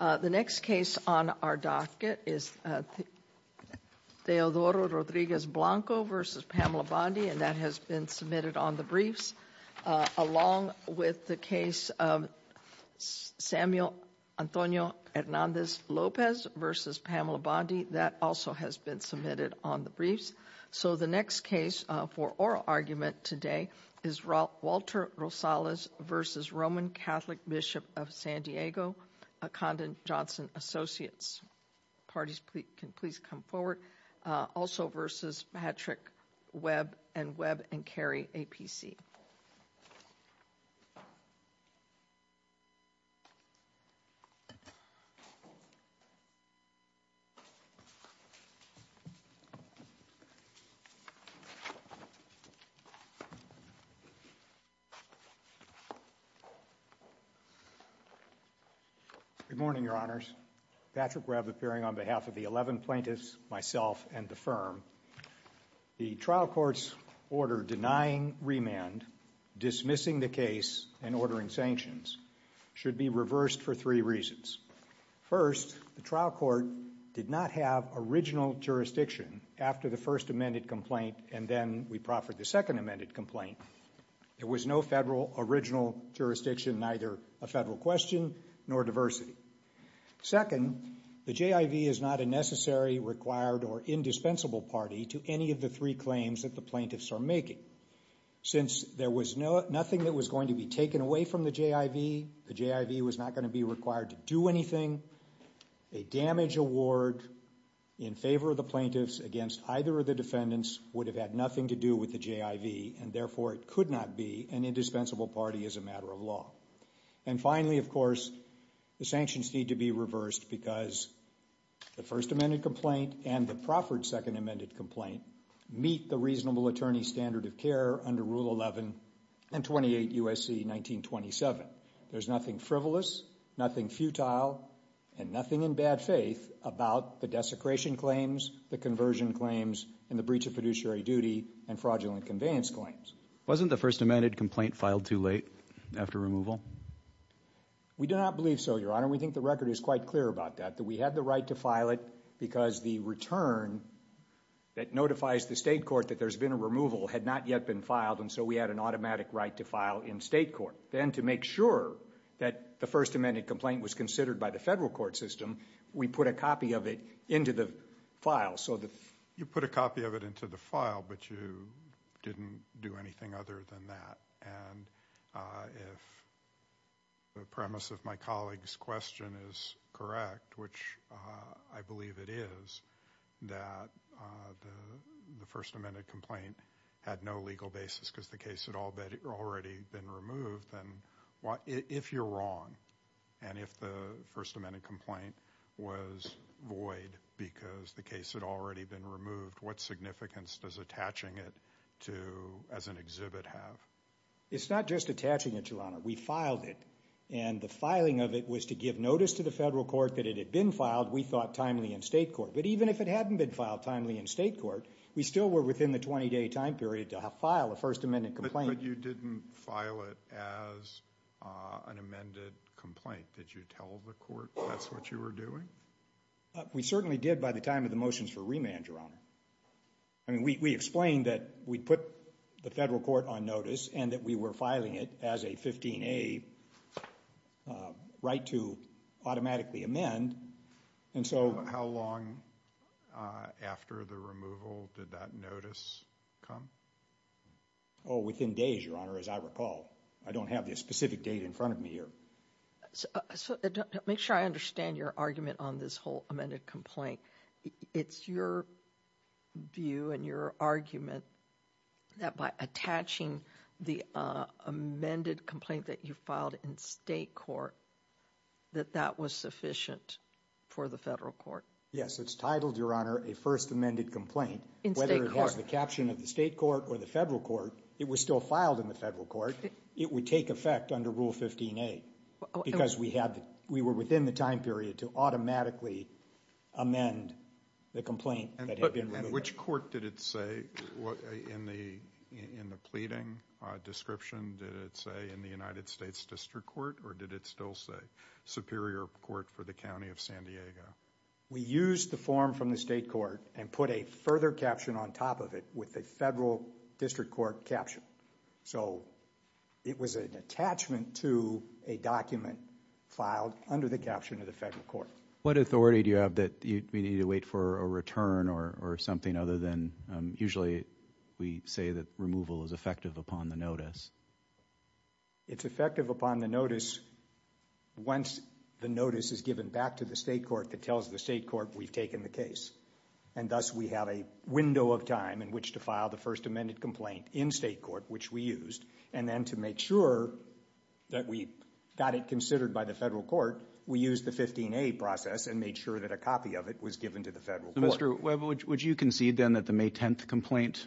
The next case on our docket is Teodoro Rodriguez Blanco v. Pamela Bondi, and that has been submitted on the briefs, along with the case of Samuel Antonio Hernandez Lopez v. Pamela Bondi. That also has been submitted on the briefs. So the next case for oral argument today is Walter Rosales v. Roman Catholic Bishop of San Diego, Condon Johnson Associates. Parties can please come forward. Also, v. Patrick Webb and Webb & Carey, APC. Good morning, Your Honors. Patrick Webb appearing on behalf of the 11 plaintiffs, myself, and the firm. The trial court's order denying remand, dismissing the case, and ordering sanctions should be reversed for three reasons. First, the trial court did not have original jurisdiction after the first amended complaint and then we proffered the second amended complaint. There was no federal original jurisdiction, neither a federal question, nor diversity. Second, the JIV is not a necessary, required, or indispensable party to any of the three claims that the plaintiffs are making. Since there was nothing that was going to be taken away from the JIV, the JIV was not going to be required to do anything, a damage award in favor of the plaintiffs against either of the defendants would have had nothing to do with the JIV and therefore it could not be an indispensable party as a matter of law. And finally, of course, the sanctions need to be reversed because the first amended complaint and the proffered second amended complaint meet the reasonable attorney standard of care under Rule 11 and 28 U.S.C. 1927. There's nothing frivolous, nothing futile, and nothing in bad faith about the desecration claims, the conversion claims, and the breach of fiduciary duty and fraudulent conveyance claims. Wasn't the first amended complaint filed too late after removal? We do not believe so, Your Honor. We think the record is quite clear about that, that we had the right to file it because the return that notifies the state court that there's been a removal had not yet been filed and so we had an automatic right to file in state court. Then to make sure that the first amended complaint was considered by the federal court system, we put a copy of it into the file. You put a copy of it into the file, but you didn't do anything other than that and if the premise of my colleague's question is correct, which I believe it is, that the first amended complaint had no legal basis because the case had already been removed, then if you're wrong and if the first amended complaint was void because the case had already been removed, what significance does attaching it to as an exhibit have? It's not just attaching it, Your Honor. We filed it and the filing of it was to give notice to the federal court that it had been filed we thought timely in state court, but even if it hadn't been filed timely in state court, we still were within the 20 day time period to file a first amended complaint. But you didn't file it as an amended complaint. Did you tell the court that's what you were doing? We certainly did by the time of the motions for remand, Your Honor. We explained that we put the federal court on notice and that we were filing it as a 15A right to automatically amend. How long after the removal did that notice come? Oh, within days, Your Honor, as I recall. I don't have the specific date in front of me here. Make sure I understand your argument on this whole amended complaint. It's your view and your argument that by attaching the amended complaint that you filed in state court, that that was sufficient for the federal court? Yes, it's titled, Your Honor, a first amended complaint. Whether it has the caption of the state court or the federal court, it was still filed in the federal court. It would take effect under Rule 15A because we were within the time period to automatically amend the complaint that had been removed. Which court did it say in the pleading description, did it say in the United States District Court or did it still say Superior Court for the County of San Diego? We used the form from the state court and put a further caption on top of it with a federal district court caption. So it was an attachment to a document filed under the caption of the federal court. What authority do you have that we need to wait for a return or something other than usually we say that removal is effective upon the notice? It's effective upon the notice once the notice is given back to the state court that tells the state court we've taken the case. And thus we have a window of time in which to file the first amended complaint in state court, which we used, and then to make sure that we got it considered by the federal court, we used the 15A process and made sure that a copy of it was given to the federal court. Mr. Webber, would you concede then that the May 10th complaint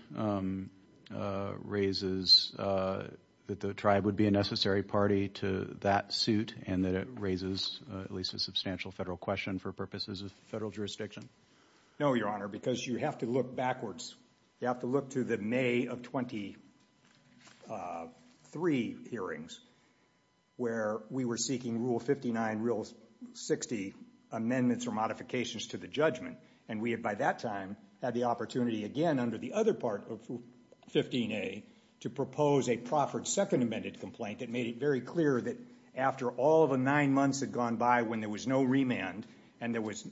raises that the tribe would be a necessary party to that suit and that it raises at least a substantial federal question for purposes of federal jurisdiction? No, Your Honor, because you have to look backwards. You have to look to the May of 23 hearings where we were seeking Rule 59, Rule 60 amendments or modifications to the judgment. And we had by that time had the opportunity again under the other part of 15A to propose a proffered second amended complaint that made it very clear that after all of the nine months had gone by when there was no remand and there was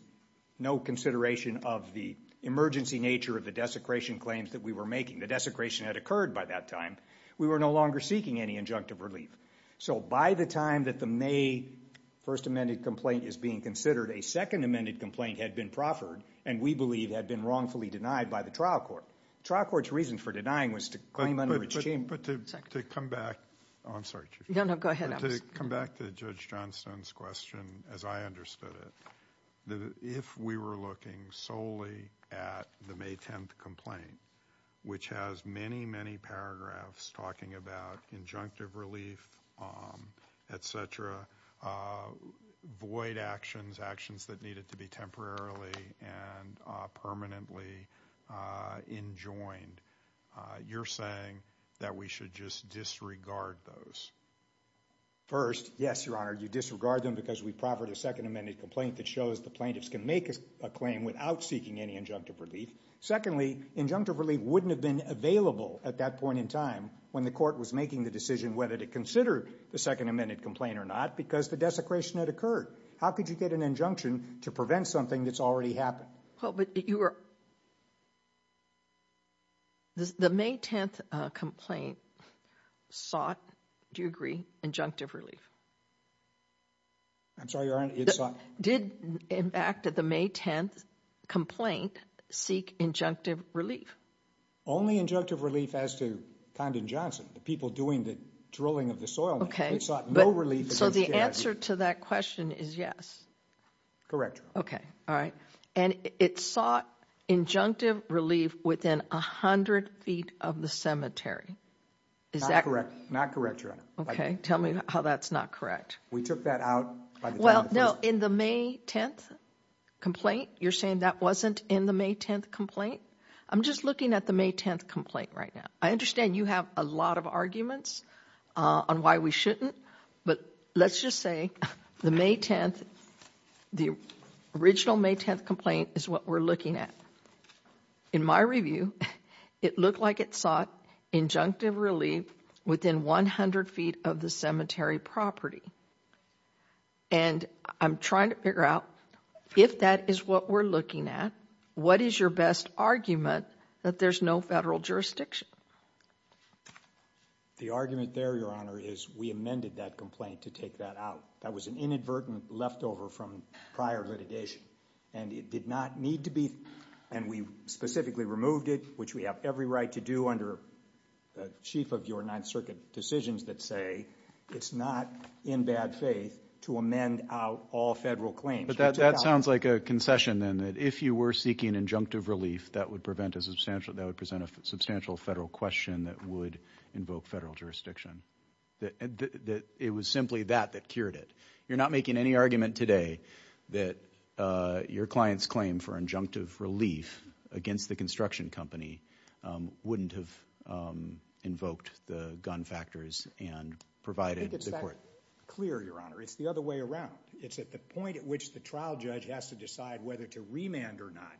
no consideration of the emergency nature of the desecration claims that we were making, the desecration had occurred by that time, we were no longer seeking any injunctive relief. So by the time that the May 1st amended complaint is being considered, a second amended complaint had been proffered and we believe had been wrongfully denied by the trial court. Trial court's reason for denying was to claim under its chamber. But to come back to Judge Johnstone's question as I understood it, that if we were looking solely at the May 10th complaint, which has many, many paragraphs talking about injunctive relief, et cetera, void actions, actions that needed to be temporarily and permanently enjoined. You're saying that we should just disregard those. First, yes, Your Honor, you disregard them because we proffered a second amended complaint that shows the plaintiffs can make a claim without seeking any injunctive relief. Secondly, injunctive relief wouldn't have been available at that point in time when the court was making the decision whether to consider the second amended complaint or not because the desecration had occurred. How could you get an injunction to prevent something that's already happened? Well, but you were, the May 10th complaint sought, do you agree? Injunctive relief. I'm sorry, Your Honor, it sought? Did in fact the May 10th complaint seek injunctive relief? Only injunctive relief as to Condon Johnson, the people doing the drilling of the soil. Okay, but so the answer to that question is yes. Correct. Okay, all right. And it sought injunctive relief within 100 feet of the cemetery. Is that correct? Not correct, Your Honor. Okay, tell me how that's not correct. We took that out. Well, no, in the May 10th complaint, you're saying that wasn't in the May 10th complaint? I'm just looking at the May 10th complaint right now. I understand you have a lot of arguments on why we shouldn't, but let's just say the May 10th, the original May 10th complaint is what we're looking at. In my review, it looked like it sought injunctive relief within 100 feet of the cemetery property. And I'm trying to figure out if that is what we're looking at, what is your best argument that there's no federal jurisdiction? The argument there, Your Honor, is we amended that complaint to take that out. That was an inadvertent leftover from prior litigation, and it did not need to be, and we specifically removed it, which we have every right to do under the chief of your Ninth Circuit decisions that say it's not in bad faith to amend out all federal claims. That sounds like a concession then, that if you were seeking injunctive relief, that would present a substantial federal question that would invoke federal jurisdiction. It was simply that that cured it. You're not making any argument today that your client's claim for injunctive relief against the construction company wouldn't have invoked the gun factors and provided the court. I think it's that clear, Your Honor. It's the other way around. It's at the point at which the trial judge has to decide whether to remand or not.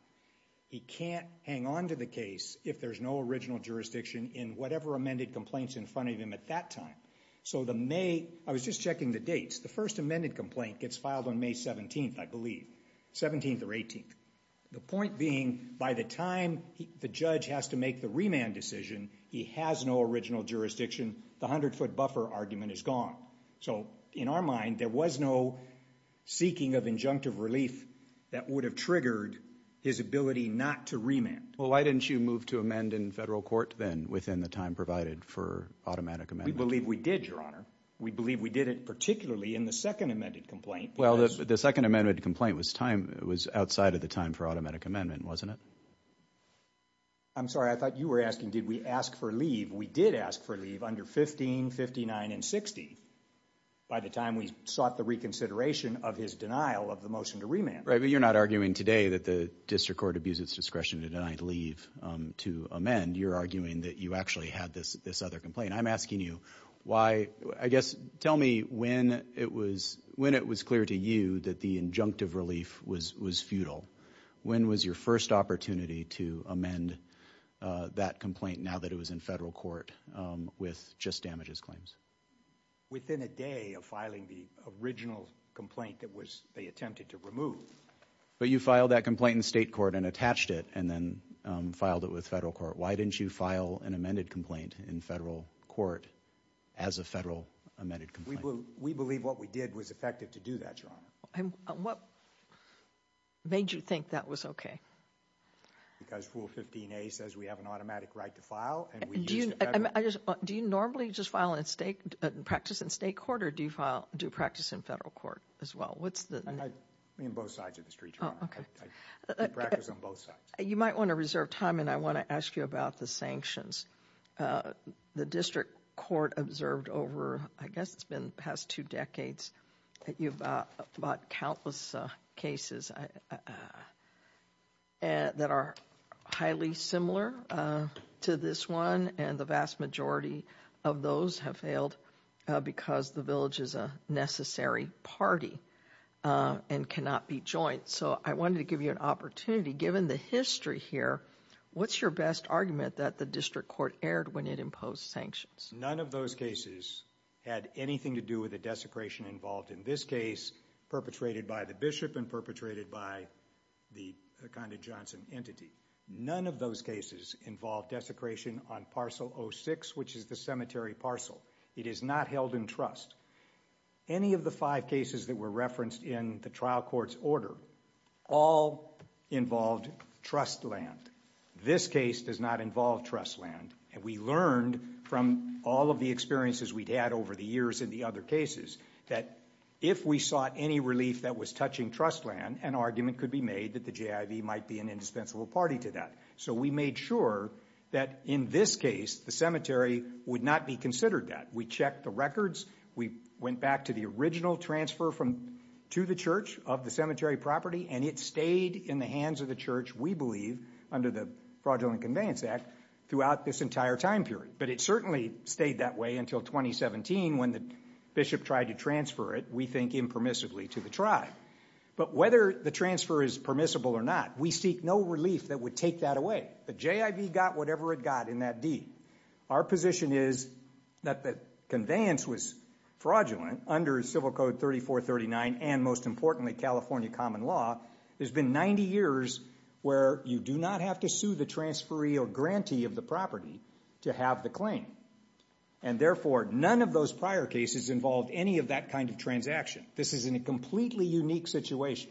He can't hang on to the case if there's no original jurisdiction in whatever amended complaints in front of him at that time. I was just checking the dates. The first amended complaint gets filed on May 17th, I believe. 17th or 18th. The point being, by the time the judge has to make the remand decision, he has no original jurisdiction. The 100-foot buffer argument is gone. So, in our mind, there was no seeking of injunctive relief that would have triggered his ability not to remand. Well, why didn't you move to amend in federal court then, within the time provided for automatic amendment? We believe we did, Your Honor. We believe we did it particularly in the second amended complaint. Well, the second amended complaint was outside of the time for automatic amendment, wasn't it? I'm sorry. I thought you were asking, did we ask for leave? We did ask for leave under 15, 59, and 60 by the time we sought the reconsideration of his denial of the motion to remand. Right, but you're not arguing today that the district court abused its discretion to deny leave to amend. You're arguing that you actually had this other complaint. I'm asking you why, I guess, tell me when it was clear to you that the injunctive relief was futile. When was your first opportunity to amend that complaint now that it was in federal court with just damages claims? Within a day of filing the original complaint that they attempted to remove. But you filed that complaint in state court and attached it and then filed it with federal court. Why didn't you file an amended complaint in federal court as a federal amended complaint? We believe what we did was effective to do that, Your Honor. And what made you think that was okay? Because Rule 15a says we have an automatic right to file. Do you normally just practice in state court or do you practice in federal court as well? I mean, both sides of the street, Your Honor. I practice on both sides. You might want to reserve time and I want to ask you about the sanctions. The district court observed over, I guess, it's been the past two decades that you've bought countless cases that are highly similar to this one. And the vast majority of those have failed because the village is a necessary party and cannot be joint. So I wanted to give you an opportunity, given the history here, what's your best argument that the district court erred when it imposed sanctions? None of those cases had anything to do with the desecration involved in this case, perpetrated by the bishop and perpetrated by the Condon Johnson entity. None of those cases involved desecration on parcel 06, which is the cemetery parcel. It is not held in trust. Any of the five cases that were referenced in the trial court's order all involved trust land. This case does not involve trust land. And we learned from all of the experiences we'd had over the years in the other cases that if we sought any relief that was touching trust land, an argument could be made that the JIV might be an indispensable party to that. So we made sure that in this case, the cemetery would not be considered that. We checked the records. We went back to the original transfer to the church of the cemetery property, and it stayed in the hands of the church, we believe, under the Fraudulent Conveyance Act throughout this entire time period. But it certainly stayed that way until 2017 when the bishop tried to transfer it, we think, impermissibly to the tribe. But whether the transfer is permissible or not, we seek no relief that would take that away. The JIV got whatever it got in that deed. Our position is that the conveyance was fraudulent under Civil Code 3439 and, most importantly, California common law. There's been 90 years where you do not have to sue the transferee or grantee of the property to have the claim. And therefore, none of those prior cases involved any of that kind of transaction. This is in a completely unique situation.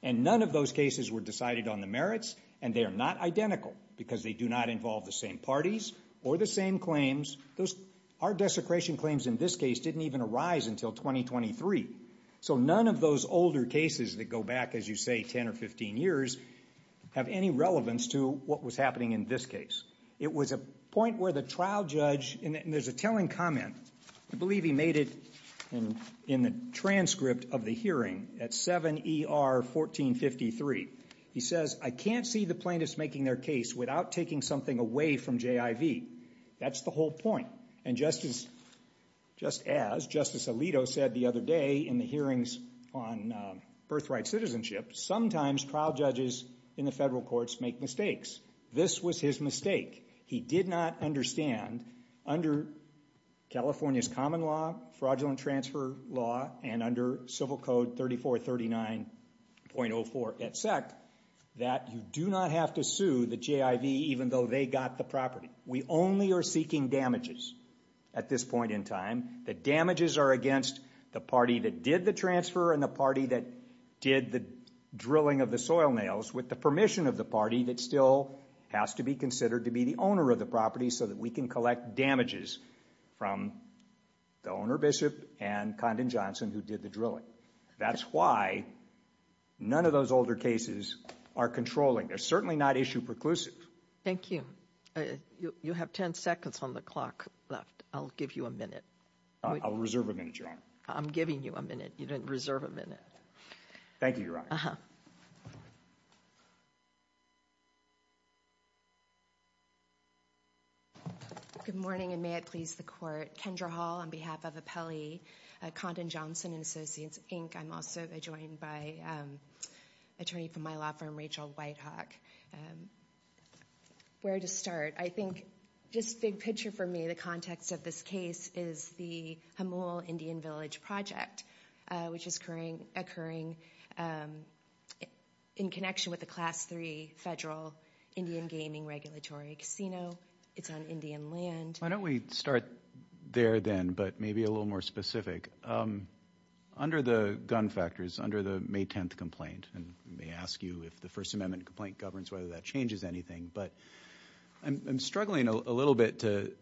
And none of those cases were decided on the merits, and they are not identical because they do not involve the same parties or the same claims. Our desecration claims in this case didn't even arise until 2023. So none of those older cases that go back, as you say, 10 or 15 years have any relevance to what was happening in this case. It was a point where the trial judge, and there's a telling comment. I believe he made it in the transcript of the hearing at 7 ER 1453. He says, I can't see the plaintiffs making their case without taking something away from JIV. That's the whole point. And just as Justice Alito said the other day in the hearings on birthright citizenship, sometimes trial judges in the federal courts make mistakes. This was his mistake. He did not understand under California's common law, fraudulent transfer law, and under civil code 3439.04 et sec, that you do not have to sue the JIV even though they got the property. We only are seeking damages at this point in time. The damages are against the party that did the transfer and the party that did the drilling of the soil nails with the permission of the party that still has to be considered to be the owner of the property so that we can collect damages from the owner, Bishop and Condon Johnson, who did the drilling. That's why none of those older cases are controlling. They're certainly not issue preclusives. Thank you. You have 10 seconds on the clock left. I'll give you a minute. I'll reserve a minute, Your Honor. I'm giving you a minute. You didn't reserve a minute. Thank you, Your Honor. Good morning, and may it please the court. Kendra Hall on behalf of Appellee Condon Johnson and Associates, Inc. I'm also joined by an attorney from my law firm, Rachel Whitehawk. Where to start? I think, just big picture for me, the context of this case is the Hamul Indian Village Project, which is occurring in connection with the Class III Federal Indian Gaming Regulatory Casino. It's on Indian land. Why don't we start there then, but maybe a little more specific. Under the gun factors, under the May 10th complaint, and I may ask you if the First Amendment complaint governs whether that changes anything, but I'm struggling a little bit to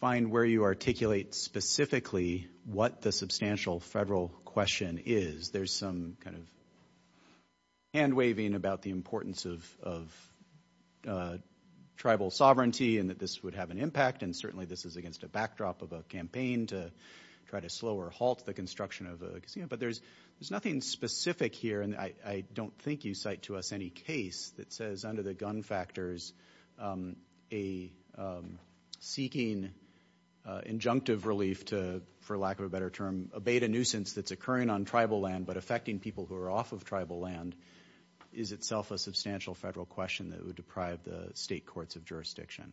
find where you articulate specifically what the substantial federal question is. There's some kind of hand-waving about the importance of tribal sovereignty and that this would have an impact, and certainly this is against a backdrop of a campaign to try to slow or halt the construction of a casino, but there's nothing specific here, and I don't think you cite to us any case that says under the gun factors, a seeking injunctive relief to, for lack of a better term, abate a nuisance that's occurring on tribal land but affecting people who are off of tribal land is itself a substantial federal question that would deprive the state courts of jurisdiction.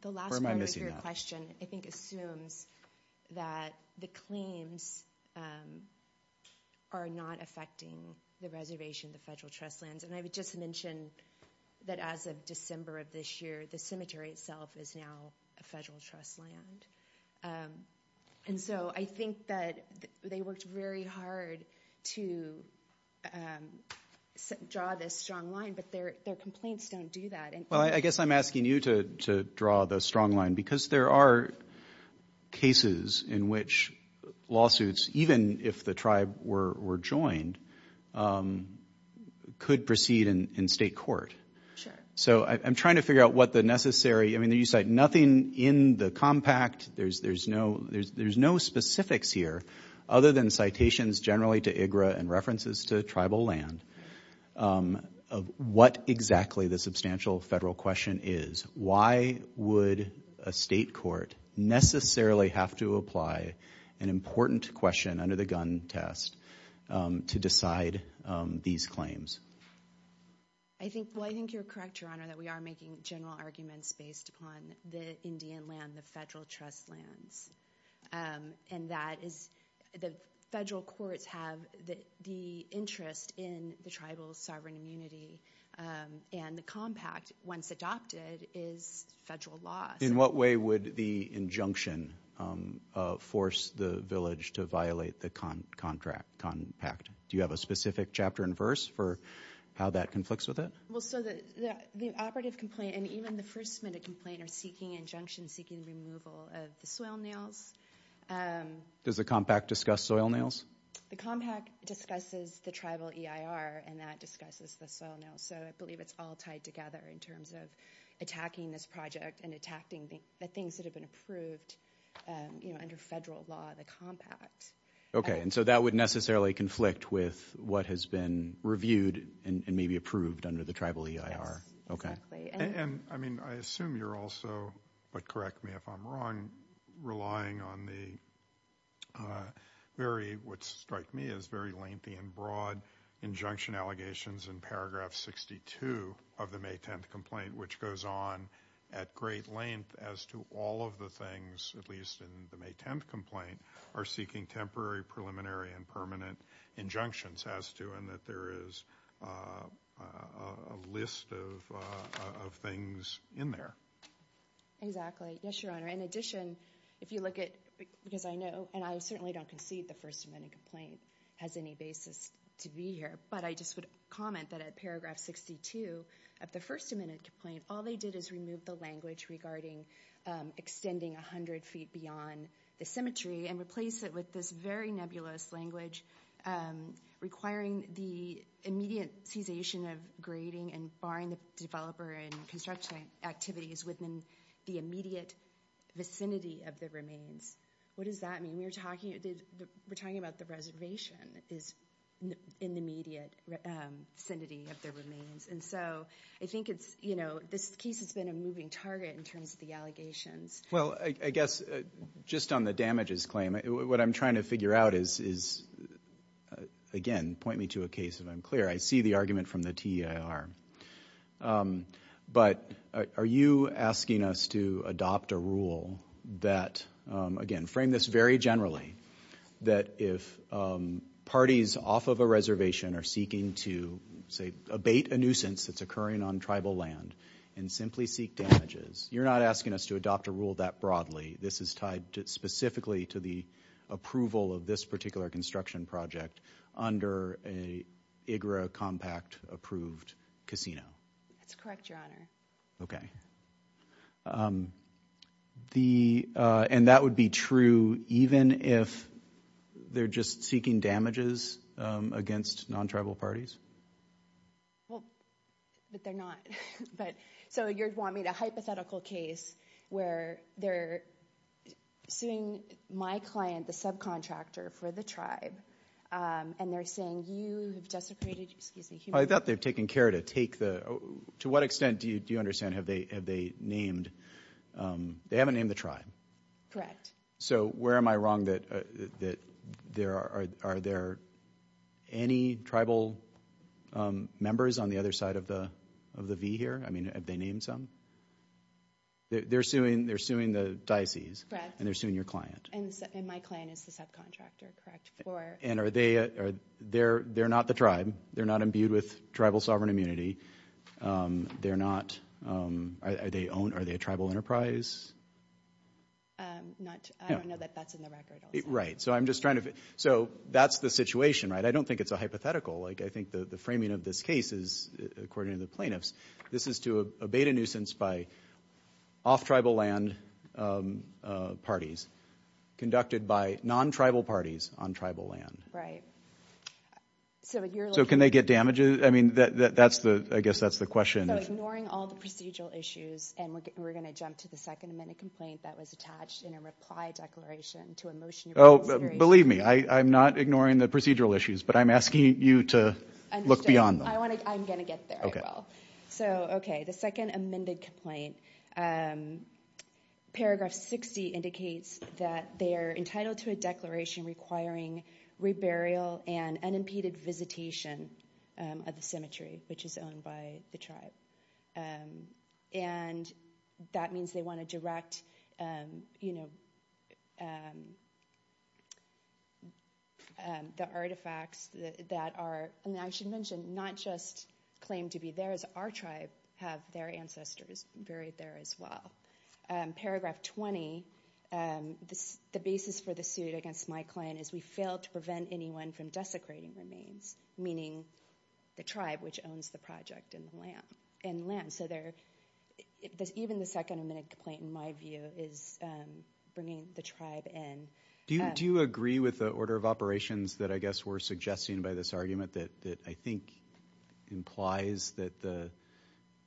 The last part of your question I think assumes that the claims are not affecting the reservation, the federal trust lands, and I would just mention that as of December of this year, the cemetery itself is now a federal trust land, and so I think that they worked very hard to draw this strong line, but their complaints don't do that. Well, I guess I'm asking you to draw the strong line because there are cases in which lawsuits, even if the tribe were joined, could proceed in state court. So I'm trying to figure out what the necessary, I mean, you cite nothing in the compact. There's no specifics here other than citations generally to IGRA and references to tribal land of what exactly the substantial federal question is. Why would a state court necessarily have to apply an important question under the gun test to decide these claims? I think, well, I think you're correct, Your Honor, that we are making general arguments based upon the Indian land, the federal trust lands, and that is the federal courts have the interest in the tribal sovereign immunity, and the compact, once adopted, is federal law. In what way would the injunction force the village to violate the compact? Do you have a specific chapter and verse for how that conflicts with it? Well, so the operative complaint and even the first minute complaint are seeking injunction, seeking removal of the soil nails. Does the compact discuss soil nails? The compact discusses the tribal EIR, and that discusses the soil nails, so I believe it's all tied together in terms of attacking this project and attacking the things that have been approved under federal law, the compact. Okay, and so that would necessarily conflict with what has been reviewed and maybe approved under the tribal EIR? Yes, exactly. And I mean, I assume you're also, but correct me if I'm wrong, relying on the very, what strike me as very lengthy and broad injunction allegations in paragraph 62 of the May 10th complaint, which goes on at great length as to all of the things, at least in the May 10th complaint, are seeking temporary, preliminary, and permanent injunctions as to, and that there is a list of things in there. Yes, Your Honor. In addition, if you look at, because I know, and I certainly don't concede the first minute complaint has any basis to be here, but I just would comment that at paragraph 62 of the first minute complaint, all they did is remove the language regarding extending 100 feet beyond the symmetry and replace it with this very nebulous language requiring the immediate cessation of grading and barring the developer and construction activities within the immediate vicinity of the remains. What does that mean? We're talking about the reservation is in the immediate vicinity of the remains. And so I think it's, you know, this case has been a moving target in terms of the allegations. Well, I guess just on the damages claim, what I'm trying to figure out is, again, point me to a case if I'm clear. I see the argument from the TEIR, but are you asking us to adopt a rule that, again, frame this very generally, that if parties off of a reservation are seeking to, say, abate a nuisance that's occurring on tribal land and simply seek damages, you're not asking us to adopt a rule that broadly. This is tied specifically to the approval of this particular construction project under a IGRA compact approved casino. That's correct, Your Honor. Okay. And that would be true even if they're just seeking damages against non-tribal parties? Well, but they're not. But so you'd want me to hypothetical case where they're suing my client, the subcontractor for the tribe, and they're saying you have desecrated, excuse me, I thought they've taken care to take the, to what extent do you understand have they named, they haven't named the tribe. Correct. So where am I wrong that, that there are, are there any tribal members on the other side of the, of the V here? I mean, have they named some? They're suing, they're suing the diocese. Correct. And they're suing your client. And my client is the subcontractor, correct, for. And are they, they're, they're not the tribe. They're not imbued with tribal sovereign immunity. They're not, are they owned, are they a tribal enterprise? Not, I don't know that that's in the record. Right. So I'm just trying to, so that's the situation, right? I don't think it's a hypothetical. Like, I think the framing of this case is, according to the plaintiffs, this is to abate a nuisance by off-tribal land parties, conducted by non-tribal parties on tribal land. Right. So can they get damages? I mean, that's the, I guess that's the question. Ignoring all the procedural issues. And we're going to jump to the second amended complaint that was attached in a reply declaration to a motion. Oh, believe me, I'm not ignoring the procedural issues, but I'm asking you to look beyond them. I want to, I'm going to get there. So, okay. The second amended complaint, paragraph 60 indicates that they are entitled to a declaration requiring reburial and unimpeded visitation of the cemetery, which is owned by the tribe. And that means they want to direct, you know, the artifacts that are, and I should mention, not just claim to be theirs. Our tribe have their ancestors buried there as well. Paragraph 20, the basis for the suit against my claim is we failed to prevent anyone from desecrating remains, meaning the tribe which owns the project and the land. So there, even the second amended complaint, in my view, is bringing the tribe in. Do you agree with the order of operations that I guess we're suggesting by this argument that I think implies that the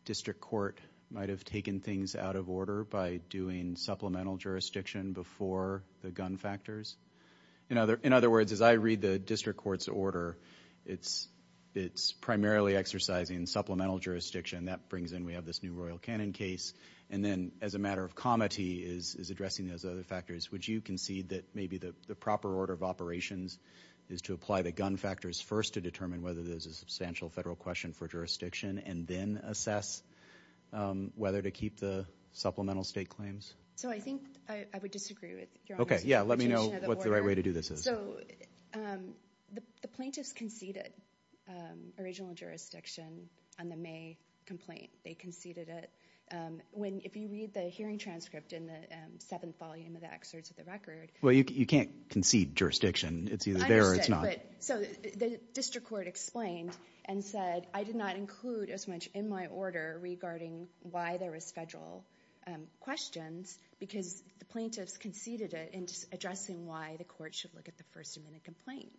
district court might've taken things out of order by doing supplemental jurisdiction before the gun factors? In other words, as I read the district court's order, it's primarily exercising supplemental jurisdiction. That brings in, we have this new Royal Cannon case. And then as a matter of comity is addressing those other factors, would you concede that maybe the proper order of operations is to apply the gun factors first to determine whether there's a substantial federal question for jurisdiction and then assess whether to keep the supplemental state claims? So I think I would disagree with your suggestion of the order. Okay, yeah, let me know what the right way to do this is. So the plaintiffs conceded original jurisdiction on the May complaint. They conceded it. If you read the hearing transcript in the seventh volume of the excerpts of the record- Well, you can't concede jurisdiction. It's either there or it's not. So the district court explained and said, I did not include as much in my order regarding why there was federal questions because the plaintiffs conceded it addressing why the court should look at the first amendment complaint.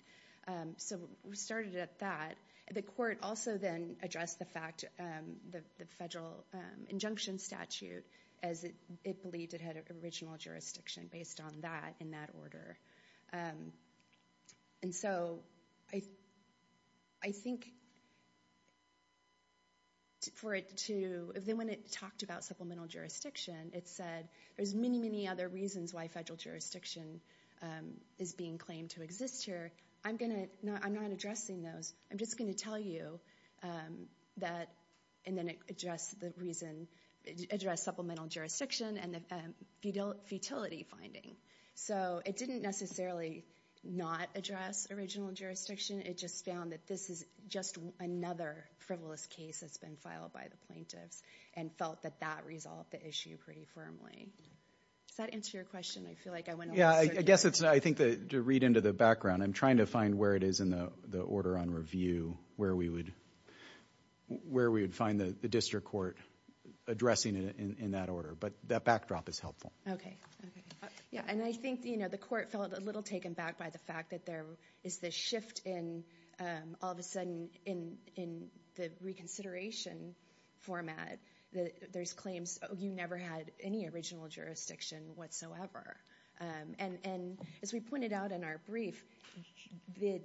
So we started at that. The court also then addressed the fact, the federal injunction statute as it believed it had original jurisdiction based on that in that order. And so I think for it to, then when it talked about supplemental jurisdiction, it said there's many, many other reasons why federal jurisdiction is being claimed to exist here. I'm not addressing those. I'm just going to tell you that and then address the reason, address supplemental jurisdiction and the futility finding. So it didn't necessarily not address original jurisdiction. It just found that this is just another frivolous case that's been filed by the plaintiffs and felt that that resolved the issue pretty firmly. Does that answer your question? I feel like I went over. Yeah, I guess it's, I think that to read into the background, I'm trying to find where it is in the order on review, where we would find the district court addressing it in that order. But that backdrop is helpful. Okay, yeah. And I think, you know, the court felt a little taken back by the fact that there is this shift in all of a sudden in the reconsideration format. There's claims you never had any original jurisdiction whatsoever. And as we pointed out in our brief, the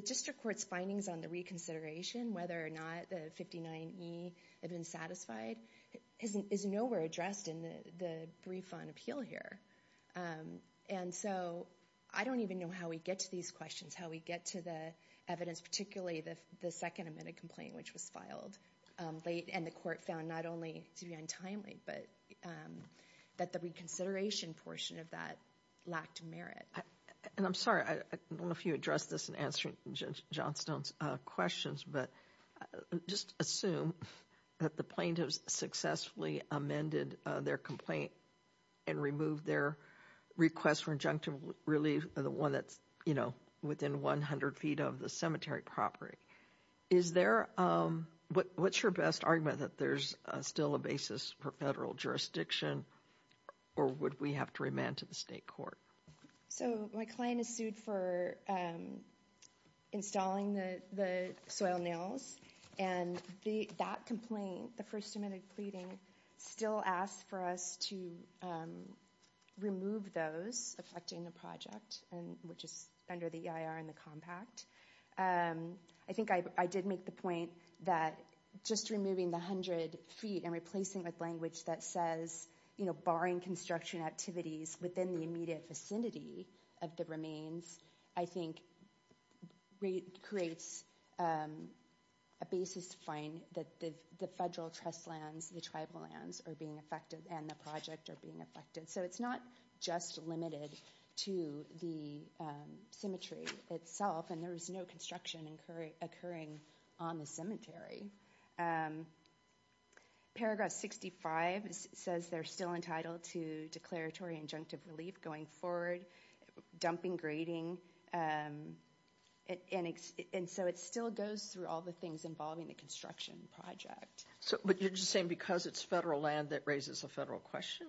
district court's findings on the reconsideration, whether or not the 59E had been satisfied, is nowhere addressed in the brief on appeal here. And so I don't even know how we get to these questions, how we get to the evidence, particularly the second amended complaint, which was filed late. And the court found not only to be untimely, but that the reconsideration portion of that lacked merit. And I'm sorry, I don't know if you addressed this in answering Johnstone's questions, but just assume that the plaintiffs successfully amended their complaint and removed their request for injunctive relief, the one that's, you know, within 100 feet of the cemetery property. Is there, what's your best argument that there's still a basis for federal jurisdiction or would we have to remand to the state court? So my client is sued for installing the soil nails and that complaint, the first amended pleading, still asks for us to remove those affecting the project, which is under the EIR and the compact. And I think I did make the point that just removing the 100 feet and replacing with language that says, you know, barring construction activities within the immediate vicinity of the remains, I think creates a basis to find that the federal trust lands, the tribal lands are being affected and the project are being affected. So it's not just limited to the cemetery itself and there is no construction occurring on the cemetery. Paragraph 65 says they're still entitled to declaratory injunctive relief going forward, dumping, grading. And so it still goes through all the things involving the construction project. So, but you're just saying because it's federal land that raises a federal question?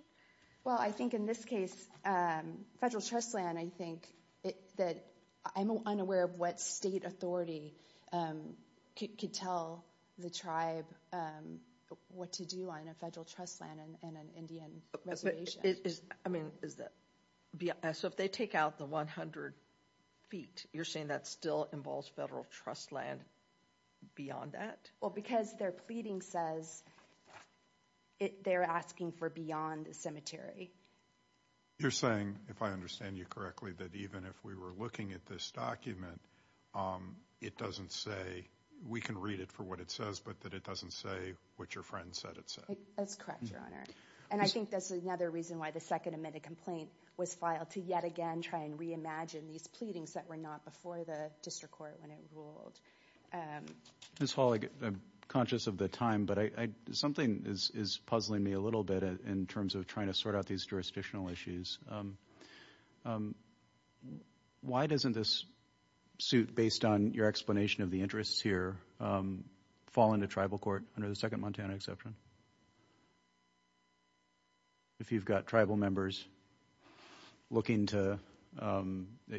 Well, I think in this case, federal trust land, I think that I'm unaware of what state authority could tell the tribe what to do on a federal trust land and an Indian reservation. But it is, I mean, is that, so if they take out the 100 feet, you're saying that still involves federal trust land beyond that? Well, because their pleading says they're asking for beyond the cemetery. You're saying, if I understand you correctly, that even if we were looking at this document, it doesn't say, we can read it for what it says, but that it doesn't say what your friend said it said? That's correct, Your Honor. And I think that's another reason why the second admitted complaint was filed to yet again, try and re-imagine these pleadings that were not before the district court when it ruled. Ms. Hall, I'm conscious of the time, but something is puzzling me a little bit in terms of trying to sort out these jurisdictional issues. Why doesn't this suit, based on your explanation of the interests here, fall into tribal court under the second Montana exception? If you've got tribal members looking to,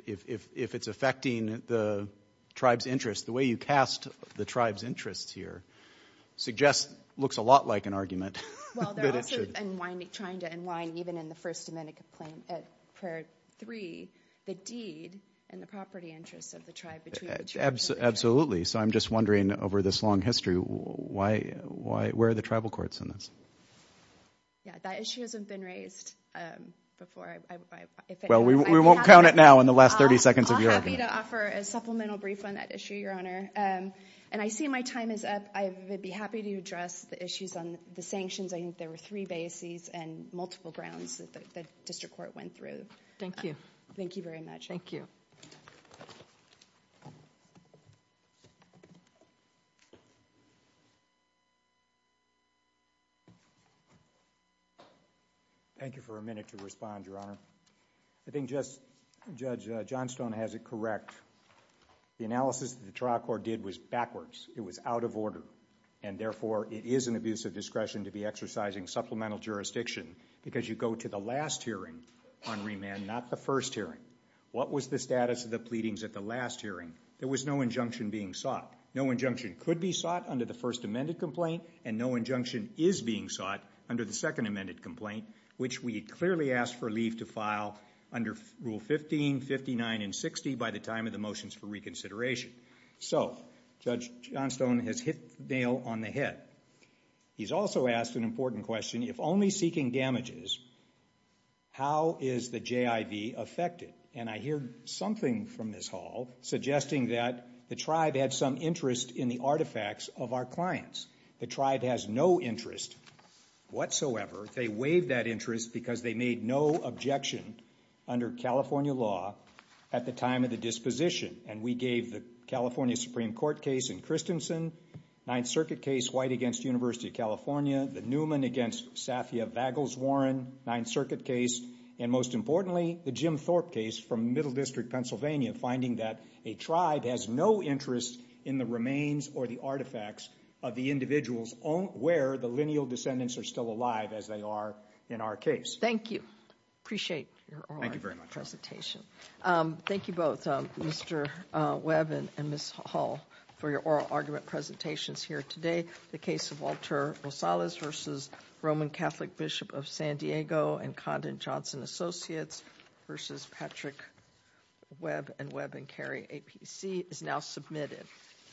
if it's affecting the tribe's interests, the way you cast the tribe's interests here suggests looks a lot like an argument. Well, they're also trying to unwind, even in the first Dominican prayer three, the deed and the property interests of the tribe. Absolutely. So I'm just wondering over this long history, where are the tribal courts in this? Yeah, that issue hasn't been raised before. Well, we won't count it now in the last 30 seconds of your argument. I'll be happy to offer a supplemental brief on that issue, Your Honor. And I see my time is up. I would be happy to address the issues on the sanctions. I think there were three bases and multiple grounds that the district court went through. Thank you. Thank you very much. Thank you for a minute to respond, Your Honor. I think Judge Johnstone has it correct. The analysis that the trial court did was backwards. It was out of order. And therefore, it is an abuse of discretion to be exercising supplemental jurisdiction because you go to the last hearing on remand, not the first hearing. What was the status of the pleadings at the last hearing? There was no injunction being sought. No injunction could be sought under the first amended complaint, and no injunction is being sought under the second amended complaint, which we clearly asked for leave to file under Rule 15, 59, and 60 by the time of the motions for reconsideration. So Judge Johnstone has hit the nail on the head. He's also asked an important question. If only seeking damages, how is the JIV affected? And I hear something from Ms. Hall suggesting that the tribe had some interest in the artifacts of our clients. The tribe has no interest whatsoever. They waived that interest because they made no objection under California law at the time of the disposition. And we gave the California Supreme Court case in Christensen, Ninth Circuit case, White against University of California, the Newman against Safia Vagles-Warren, Ninth Circuit case, and most importantly, the Jim Thorpe case from Middle District, Pennsylvania, finding that a tribe has no interest in the remains or the artifacts of the individuals where the lineal descendants are still alive as they are in our case. Thank you. Appreciate your oral presentation. Thank you both, Mr. Webb and Ms. Hall for your oral argument presentations here today. The case of Walter Rosales versus Roman Catholic Bishop of San Diego and Condon Johnson Associates versus Patrick Webb and Webb and Carey APC is now submitted.